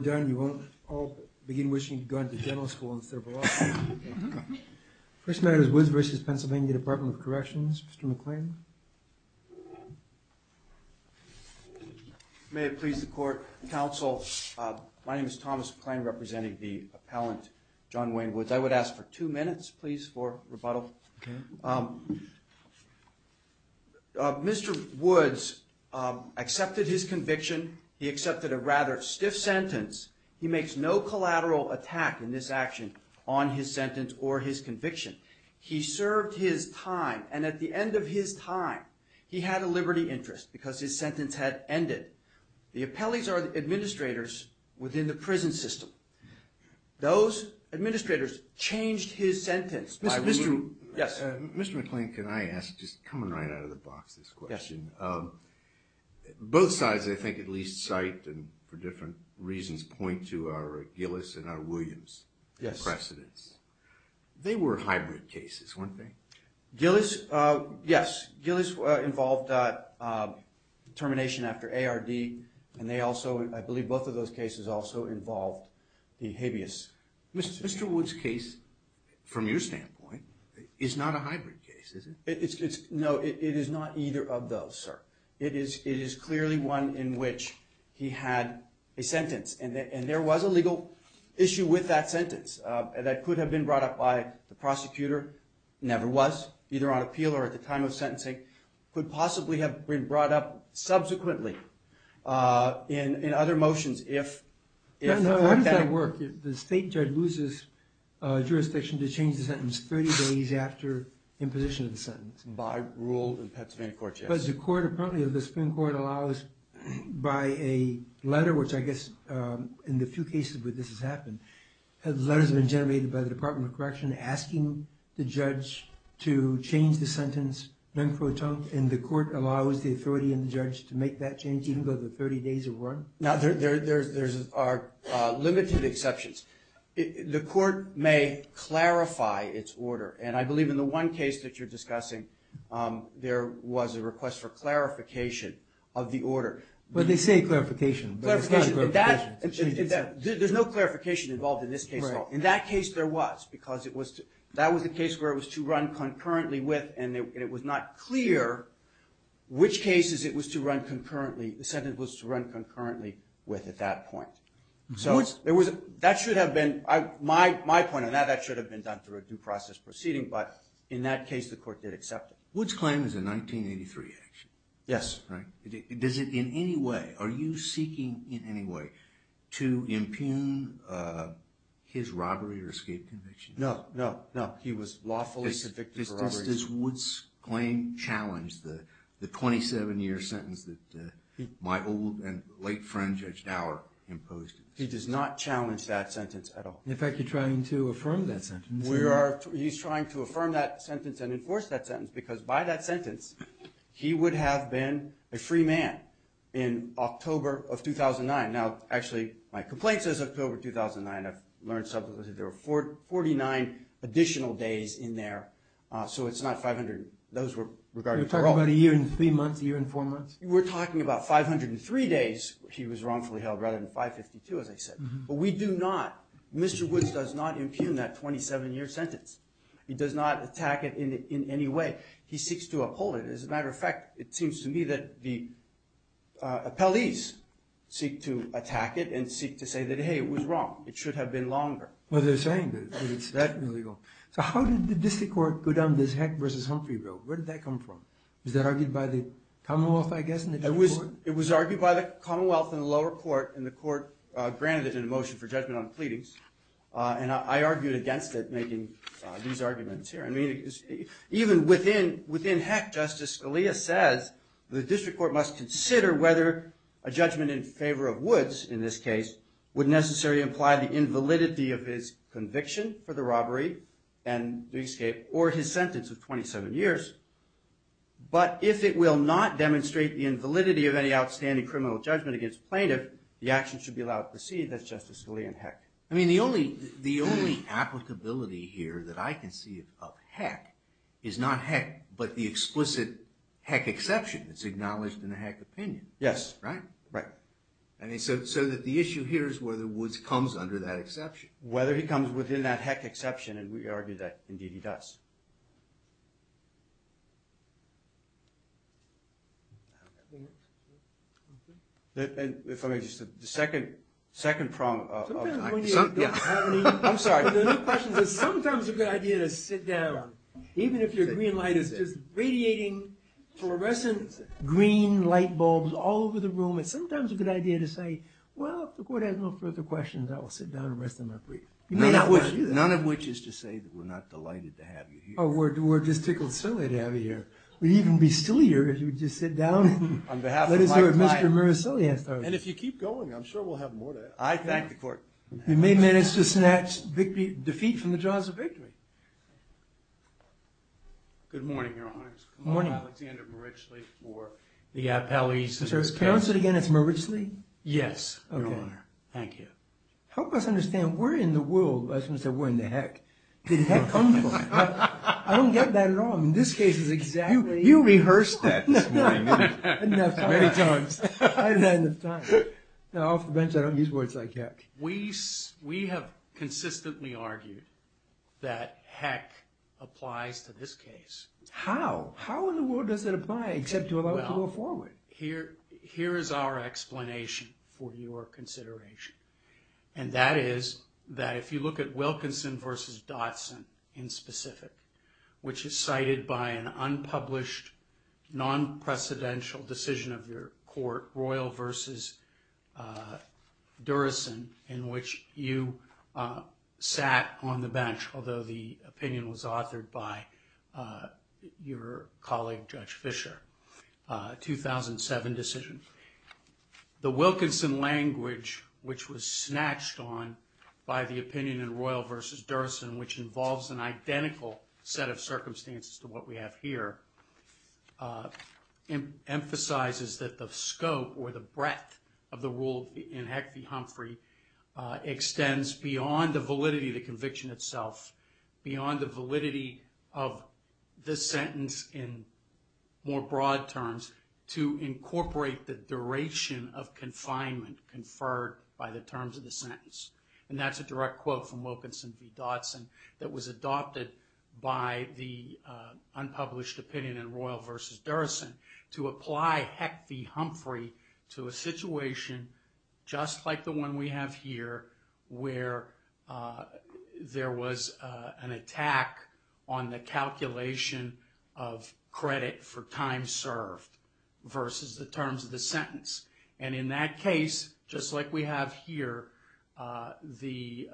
Mr. McClain, you won't all begin wishing to go to dental school in Third of August. First matter is Woods v. Pennsylvania Dept of Corrections. Mr. McClain. May it please the court, counsel, my name is Thomas McClain representing the appellant John Wayne Woods. I would ask for two minutes please for rebuttal. Mr. Woods accepted his conviction. He accepted a rather stiff sentence. He makes no collateral attack in this action on his sentence or his conviction. He served his time, and at the end of his time, he had a liberty interest because his sentence had ended. The appellees are administrators within the prison system. Those administrators changed his sentence. Mr. McClain, can I ask, just coming right out of the box this question, both sides I think at least cite and for different reasons point to our Gillis and our Williams precedents. They were hybrid cases, weren't they? Gillis, yes. Gillis involved termination after ARD, and they also, I believe both of those cases also involved the habeas. Mr. Woods' case from your standpoint is not a hybrid case, is it? No, it is not either of those, sir. It is clearly one in which he had a sentence, and there was a legal issue with that sentence that could have been brought up by the prosecutor, never was, either on appeal or at the time of sentencing could possibly have been brought up subsequently in other motions if that had worked. The state judge loses jurisdiction to change the sentence 30 days after imposition of the sentence? By rule of the Pennsylvania court, yes. Does the Supreme Court allow us by a letter which I guess in the few cases where this has happened, has letters been generated by the Department of Correction asking the judge to change the sentence and the court allows the authority in the judge to make that change even though the 30 days have run? There are limited exceptions. The court may clarify its order, and I believe in the one case that you're discussing there was a request for clarification of the order. But they say clarification, but it's not clarification. There's no clarification involved in this case at all. In that case there was, because that was the case where it was to run concurrently with, and it was not clear which cases it was to run concurrently, the sentence was to run concurrently with at that point. So that should have been, my point on that, that should have been done through a due process proceeding, but in that case the court did accept it. Wood's claim is a 1983 action. Yes. Does it in any way, are you seeking in any way to impugn his robbery or escape conviction? No. He was lawfully convicted for robbery. Does Wood's claim challenge the 27 year sentence that my old and he does not challenge that sentence at all. In fact you're trying to affirm that sentence. He's trying to affirm that sentence and enforce that sentence because by that sentence he would have been a free man in October of 2009. Now actually my complaint says October 2009, I've learned subsequently there were 49 additional days in there, so it's not 500, those were regarded for robbery. You're talking about a year and three months, a year and four months? We're talking about 503 days he was wrongfully held rather than 552 as I said. But we do not Mr. Woods does not impugn that 27 year sentence. He does not attack it in any way. He seeks to uphold it. As a matter of fact, it seems to me that the appellees seek to attack it and seek to say that hey it was wrong. It should have been longer. Well they're saying that it's that illegal. So how did the district court go down this heck versus Humphrey bill? Where did that come from? Was that argued by the Commonwealth I guess? It was argued by the Commonwealth in the lower court and the court granted it a motion for judgment on pleadings and I argued against it making these arguments here. I mean even within heck Justice Scalia says the district court must consider whether a judgment in favor of Woods in this case would necessarily imply the invalidity of his conviction for the robbery and the escape or his sentence of 27 years. But if it will not demonstrate the invalidity of any outstanding criminal judgment against plaintiff, the action should be allowed to proceed. That's Justice Scalia in heck. I mean the only applicability here that I can see of heck is not heck but the explicit heck exception that's acknowledged in a heck opinion. Yes. Right? Right. So the issue here is whether Woods comes under that exception. Whether he comes within that heck exception and we argue that indeed he does. And if I may just the second problem Sometimes a good idea to sit down even if your green light is just radiating fluorescent green light bulbs all over the room it's sometimes a good idea to say well if the court has no further questions I will sit down and rest in my brief. Oh we're just tickled silly to have you here. We'd even be sillier if you would just sit down and let us know if Mr. Muriceli has those. And if you keep going I'm sure we'll have more to ask. I thank the court. We may manage to snatch defeat from the jaws of victory. Good morning, Your Honor. Good morning. I'm Alexander Muriceli for the Appellate Justice Council. Can you say that again? It's Muriceli? Yes, Your Honor. Thank you. Help us understand we're in the world. I was going to say we're in the heck. Where did heck come from? I don't get that at all. In this case you rehearsed that this morning. Enough times. I didn't have enough time. Off the bench I don't use words like heck. We have consistently argued that heck applies to this case. How? How in the world does it apply except to a law to a foreman? Here is our explanation for your consideration. And that is that if you look at Wilkinson v. Dotson in specific which is cited by an unpublished non-precedential decision of your court, Royal v. Durison, in which you sat on the bench, although the opinion was authored by your colleague Judge Fischer. 2007 decision. The Wilkinson language which was snatched on by the opinion in Royal v. Durison, which involves an identical set of circumstances to what we have here, emphasizes that the scope or the breadth of the rule in Heck v. Humphrey extends beyond the validity of the conviction itself beyond the validity of this sentence in more broad terms to incorporate the duration of confinement conferred by the terms of the sentence. And that's a direct quote from Wilkinson v. Dotson that was adopted by the unpublished opinion in Royal v. Durison to apply Heck v. Humphrey to a situation just like the one we have here where there was an attack on the calculation of credit for time served versus the terms of the sentence. And in that case, just like we have here, the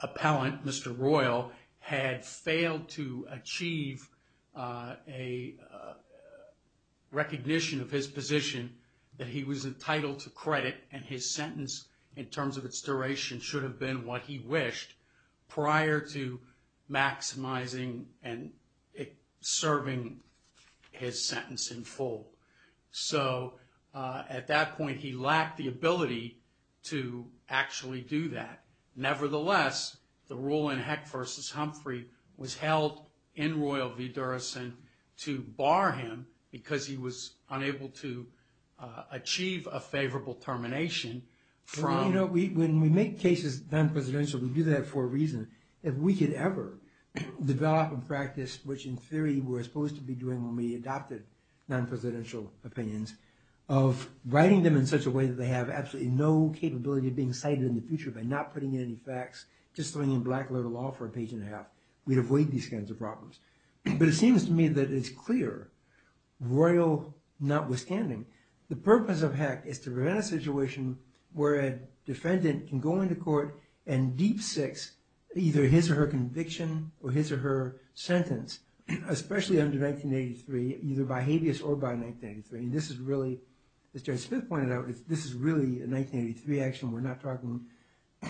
appellant, Mr. Royal, had failed to achieve a recognition of his position that he was entitled to credit and his sentence in terms of its duration should have been what he wished prior to maximizing and serving his sentence in full. So at that point, he lacked the ability to actually do that. Nevertheless, the rule in Heck v. Humphrey was held in Royal v. Durison to bar him because he was unable to achieve a favorable termination from... When we make cases non-presidential, we do that for a reason. If we could ever develop a practice, which in theory we're supposed to be doing when we adopted non-presidential opinions, of writing them in such a way that they have absolutely no capability of being cited in the future by not putting any facts, just throwing in black letter law for a page and a half, we'd avoid these kinds of problems. But it seems to me that it's clear, Royal notwithstanding, the purpose of Heck is to prevent a situation where a defendant can go into court and deep-six either his or her conviction or his or her sentence especially under 1983, either by habeas or by 1983. This is really, as Jerry Smith pointed out, this is really a 1983 action. We're not talking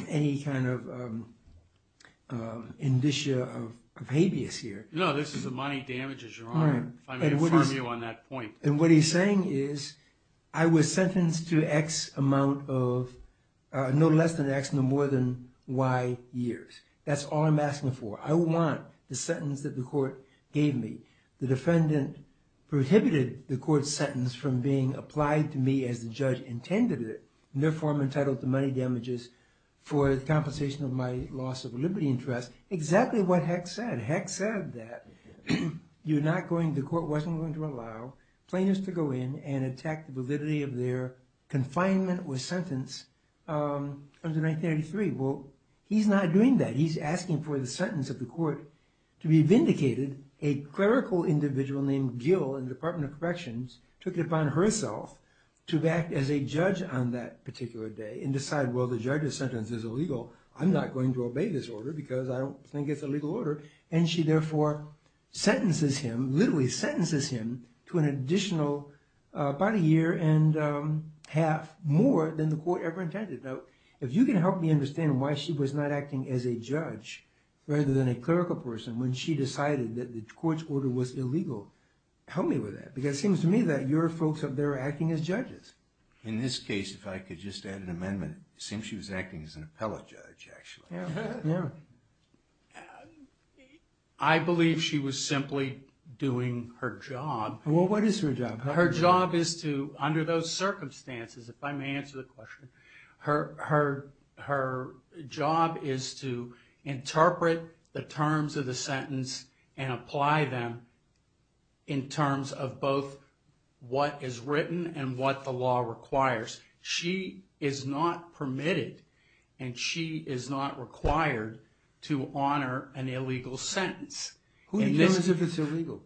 any kind of indicia of habeas here. No, this is a money damage as your Honor. If I may inform you on that point. And what he's saying is I was sentenced to no less than X no more than Y years. That's all I'm asking for. I want the sentence that the court gave me. The defendant prohibited the court's sentence from being applied to me as the judge intended it, in their form entitled to money damages for the compensation of my loss of liberty and trust. Exactly what Heck said. Heck said that the court wasn't going to allow plaintiffs to go in and attack the validity of their confinement or 1983. Well, he's not doing that. He's asking for the sentence of the court to be vindicated. A clerical individual named Gill in the Department of Corrections took it upon herself to act as a judge on that particular day and decide, well, the judge's sentence is illegal. I'm not going to obey this order because I don't think it's a legal order. And she therefore sentences him, literally sentences him, to an additional about a year and a half more than the I believe she was simply doing her job. Well, what is her job? Her job is to, under those circumstances, if I may answer the question, her job is to interpret the terms of the sentence and apply them in terms of both what is written and what the law requires. She is not permitted and she is not required to honor an illegal sentence. Who determines if it's illegal?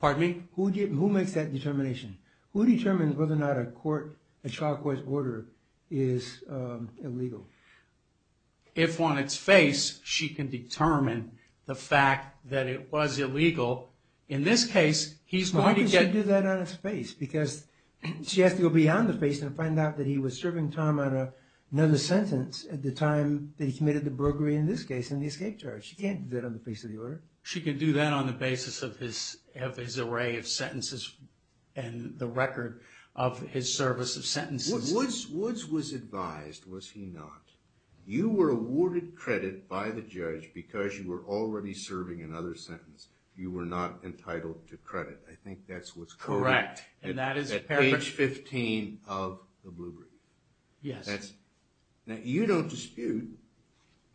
Pardon me? Who makes that determination? Who determines whether or not a child court's order is illegal? If on its face, she can determine the fact that it was illegal. In this case, he's going to get... Why would she do that on his face? Because she has to go beyond the face to find out that he was serving time on another sentence at the time that he committed the burglary, in this case, in the escape charge. She can't do that on the face of the order. She can do that on the basis of his array of sentences and the record of his service of sentences. Woods was advised, was he not, you were awarded credit by the judge because you were already serving another sentence. You were not entitled to credit. I think that's what's correct. Correct. At page 15 of the blueprint. Yes. Now, you don't dispute,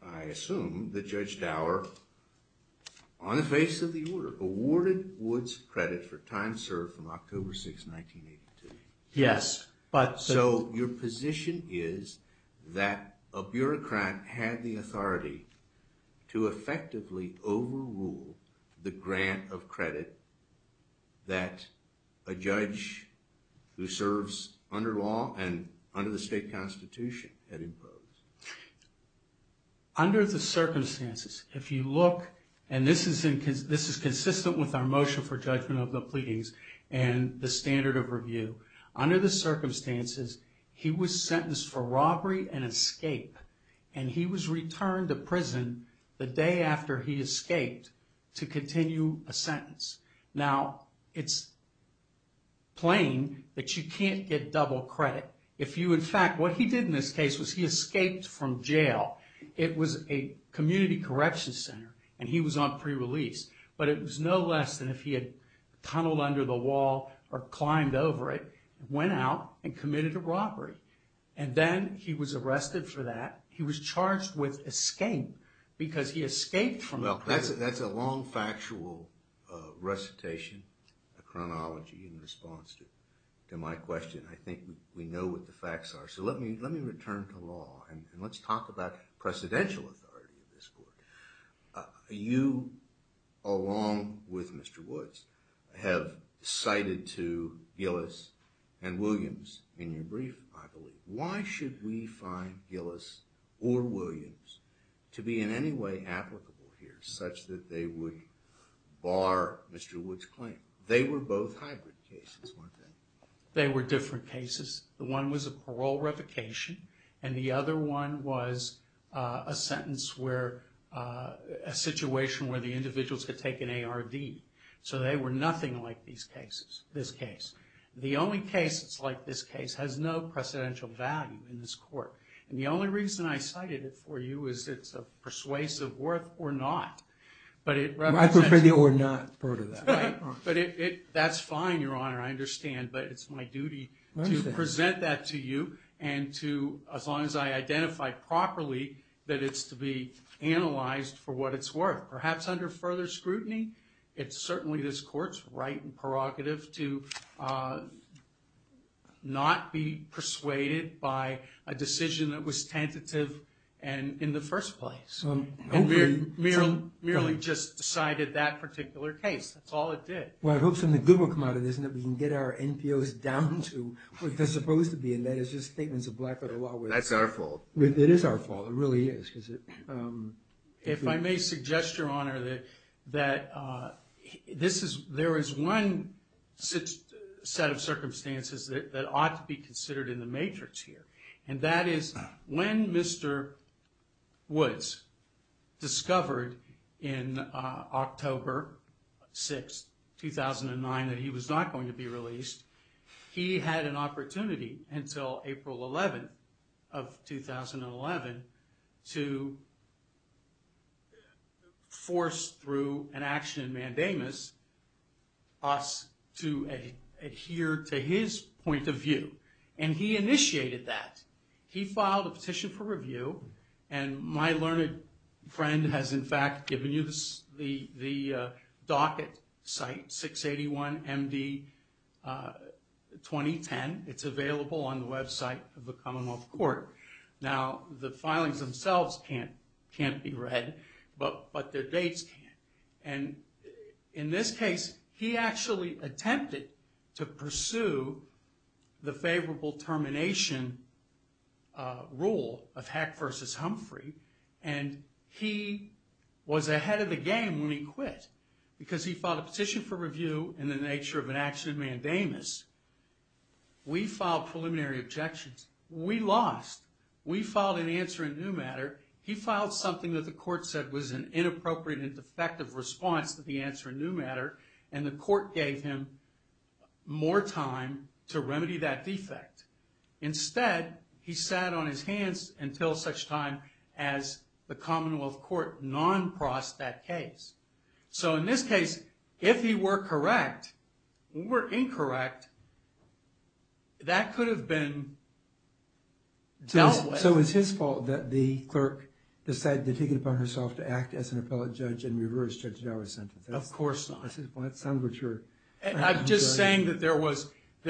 I assume, that Judge Dower, on the face of the order, awarded Woods credit for time served from Yes. So, your position is that a bureaucrat had the authority to effectively overrule the grant of credit that a judge who serves under law and under the state constitution had imposed. Under the circumstances, if you look, and this is consistent with our motion for judgment of the pleadings and the standard of review, under the circumstances, he was sentenced for robbery and escape, and he was returned to prison the day after he escaped to continue a sentence. Now, it's plain that you can't get double credit. If you, in fact, what he did in this case was he escaped from jail. It was a community correction center, and he was on pre-release, but it was no less than if he had tunneled under the wall or climbed over it, went out and committed a robbery, and then he was arrested for that. He was charged with escape because he escaped from the prison. Well, that's a long factual recitation, a chronology in response to my question. I think we know what the facts are, so let me return to law, and let's talk about precedential authority in this court. You, along with Mr. Woods, have cited to Gillis and Williams in your brief, I believe. Why should we find Gillis or Williams to be in any way applicable here, such that they would bar Mr. Woods' claim? They were both hybrid cases, weren't they? They were different cases. The one was a parole revocation, and the other one was a sentence where a situation where the individuals could take an ARD, so they were nothing like this case. The only case that's like this case has no precedential value in this court, and the only reason I cited it for you is it's a persuasive worth or not. I prefer the or not part of that. That's fine, Your Honor, I understand, but it's my duty to present that to you, and as long as I identify properly that it's to be analyzed for what it's worth. Perhaps under further scrutiny, it's certainly this court's right and prerogative to not be persuaded by a decision that was tentative in the first place, and merely just decided that particular case. That's all it did. Well, I hope something good will come out of this, and that we can get our NPOs down to what they're supposed to be, and that it's just statements of black-letter law. That's our fault. It is our fault, it really is. If I may suggest, Your Honor, that there is one set of circumstances that ought to be considered in the matrix here, and that is when Mr. Woods discovered in October 6, 2009 that he was not going to be released, he had an opportunity until April 11 of 2011 to force through an action in mandamus us to adhere to his point of view, and he initiated that. He filed a petition for review, and my learned friend has in fact given you the docket site, 681 MD 2010. It's available on the website of the Commonwealth Court. Now, the filings themselves can't be read, but their dates can. In this case, he actually attempted to pursue the favorable termination rule of Heck versus Humphrey, and he was ahead of the game when he quit, because he filed a petition for review. We lost. We filed an answer in new matter. He filed something that the court said was an inappropriate and defective response to the answer in new matter, and the court gave him more time to remedy that defect. Instead, he sat on his hands until such time as the Commonwealth Court non-prossed that case. So in this case, if he were correct or incorrect, that could have been dealt with. So it's his fault that the clerk decided to take it upon herself to act as an appellate judge and reverse Judge Jarvis' sentence. Of course not. I'm just saying that there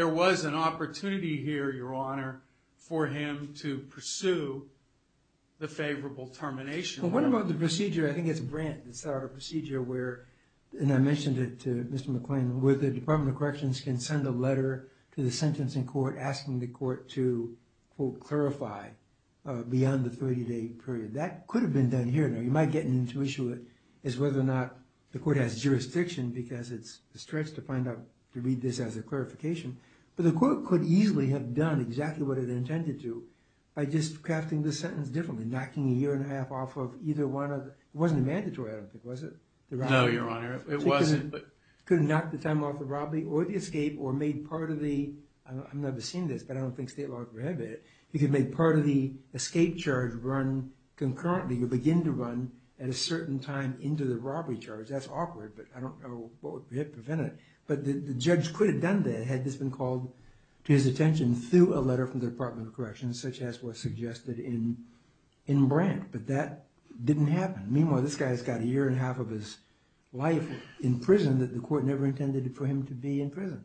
was an opportunity here, Your Honor, for him to pursue the favorable termination rule. What about the procedure, I think it's Brent that started a procedure where, and I mentioned it to Mr. McClain, where the Department of Corrections can send a letter to the sentencing court asking the court to, quote, clarify beyond the 30-day period. That could have been done here, Your Honor. You might get into the issue of whether or not the court has jurisdiction, because it's a stretch to find out, to read this as a clarification, but the court could easily have done exactly what it intended to by just crafting the sentence differently, knocking a year and a half off of either one of, it wasn't a mandatory, I don't think, was it? No, Your Honor, it wasn't. It could have knocked the time off the robbery or the escape or made part of the, I've never seen this, but I don't think state law would prohibit it, it could make part of the escape charge run concurrently or begin to run at a certain time into the robbery charge. That's awkward, but I don't know what would prevent it. But the judge could have done that had this been called to his attention through a letter from the Department of Corrections, such as was suggested in Grant, but that didn't happen. Meanwhile, this guy's got a year and a half of his life in prison that the court never intended for him to be in prison.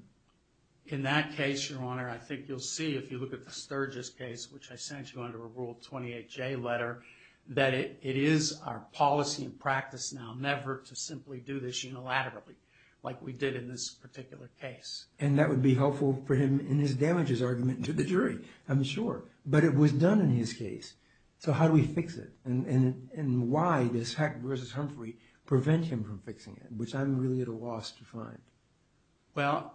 In that case, Your Honor, I think you'll see if you look at the Sturgis case, which I sent you under a Rule 28J letter, that it is our policy and practice now never to simply do this unilaterally, like we did in this particular case. And that would be helpful for him in his damages argument to the jury, I'm sure. But it was done in his case. So how do we fix it? And why does Heck v. Humphrey prevent him from fixing it, which I'm really at a loss to find. Well,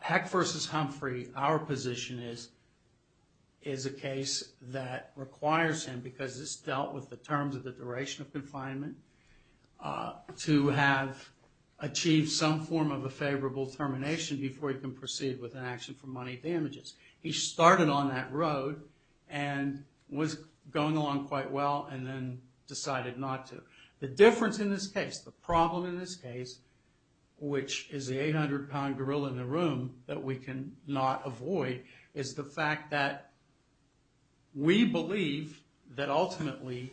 Heck v. Humphrey, our position is, is a case that requires him, because it's dealt with the terms of the duration of confinement, to have achieved some form of a favorable termination before he can proceed with an action for money damages. He started on that road and was going along quite well and then decided not to. The difference in this case, the problem in this case, which is the 800-pound gorilla in the room that we cannot avoid, is the fact that we believe that ultimately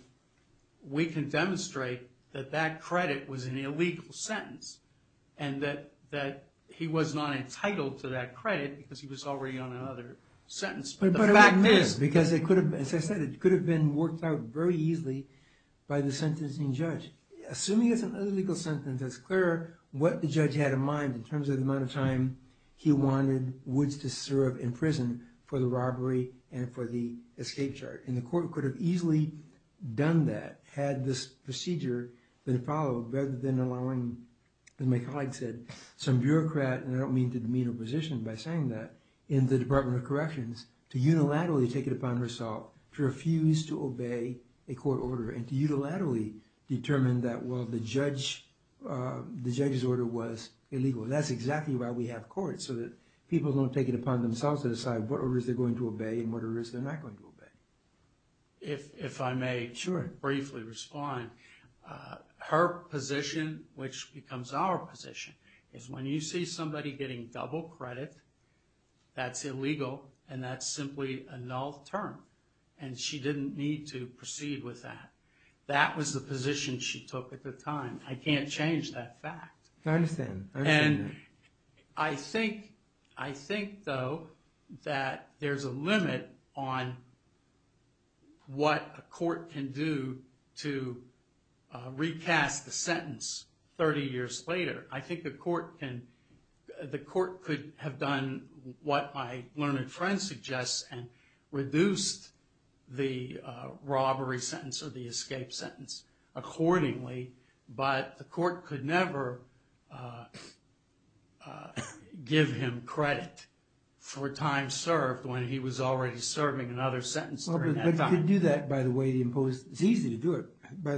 we can demonstrate that that credit was an illegal sentence and that he was not entitled to that credit because he was already on another sentence. As I said, it could have been worked out very easily by the sentencing judge. Assuming it's an illegal sentence, it's clear what the judge had in mind in terms of the amount of time he wanted Woods to serve in prison for the robbery and for the escape chart. And the court could have easily done that, had this procedure been followed, rather than allowing, as my colleague said, some bureaucrat and I don't mean to demean her position by saying that, in the Department of Corrections to unilaterally take it upon herself to refuse to obey a court order and to unilaterally determine that, well, the judge's order was illegal. That's exactly why we have courts, so that people don't take it upon themselves to decide what orders they're going to obey and what orders they're not going to obey. If I may briefly respond, her position, which becomes our position, is when you see somebody getting double credit that's illegal and that's simply a null term and she didn't need to proceed with that. That was the position she took at the time. I can't change that fact. I think, though, that there's a limit on what a court can do to recast the I think the court could have done what my learned friend suggests and reduced the robbery sentence or the escape sentence accordingly but the court could never give him credit for time served when he was already serving another sentence during that time. It's easy to do it by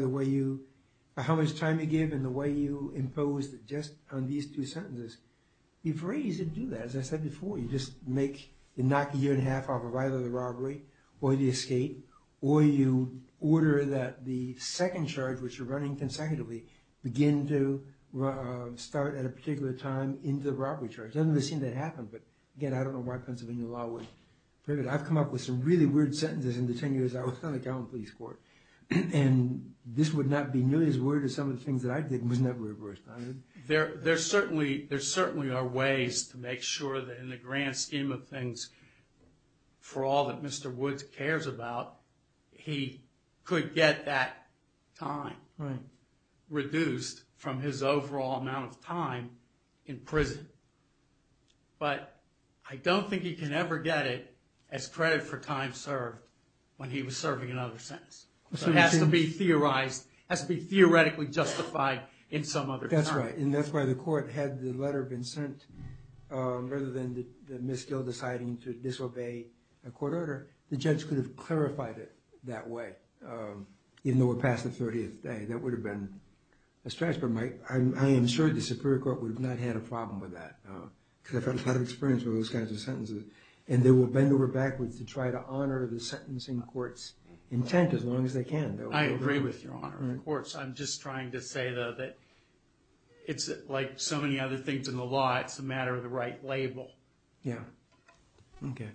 how much time you give and the way you impose it just on these two sentences. You're free to do that. As I said before, you just knock a year and a half off of either the robbery or the escape or you order that the second charge, which you're running consecutively, begin to start at a particular time into the robbery charge. It doesn't seem to happen but, again, I don't know why Pennsylvania law would prohibit it. I've come up with some really weird sentences in the ten years I was on the Calhoun Police Court and this would not be nearly as weird as some of the things that I did and would never have responded. There certainly are ways to make sure that in the grand scheme of things, for all that Mr. Woods cares about he could get that time reduced from his overall amount of time in prison but I don't think he can ever get it as credit for time served when he was serving another sentence. It has to be theorized. It has to be theoretically justified in some other time. That's right and that's why the court had the letter been sent rather than Ms. Gill deciding to disobey a court order the judge could have clarified it that way even though it passed the 30th day. That would have been a stretch but I am sure the Superior Court would not have had a problem with that because I've had a lot of experience with those kinds of sentences and they will bend over backwards to try to honor the sentencing court's intent as long as they can. I agree with your honor. I'm just trying to say though that it's like so many other things in the law, it's a matter of the right label. Thank you.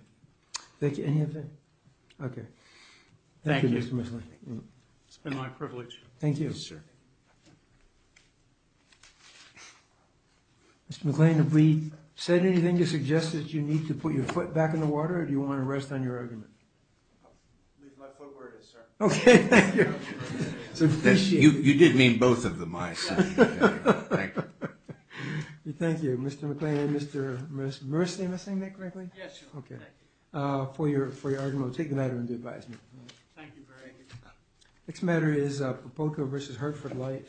Thank you. It's been my privilege. Mr. McLean, have we said anything to suggest that you need to put your foot back in the water or do you want to rest on your argument? I'll leave my foot where it is, sir. Okay, thank you. You did mean both of them, I assume. Thank you. Thank you, Mr. McLean and Mr. Morrissey. Am I saying that correctly? Yes, you are. Take the matter into advisement. Thank you very much. Next matter is Popoka v. Hertford Light.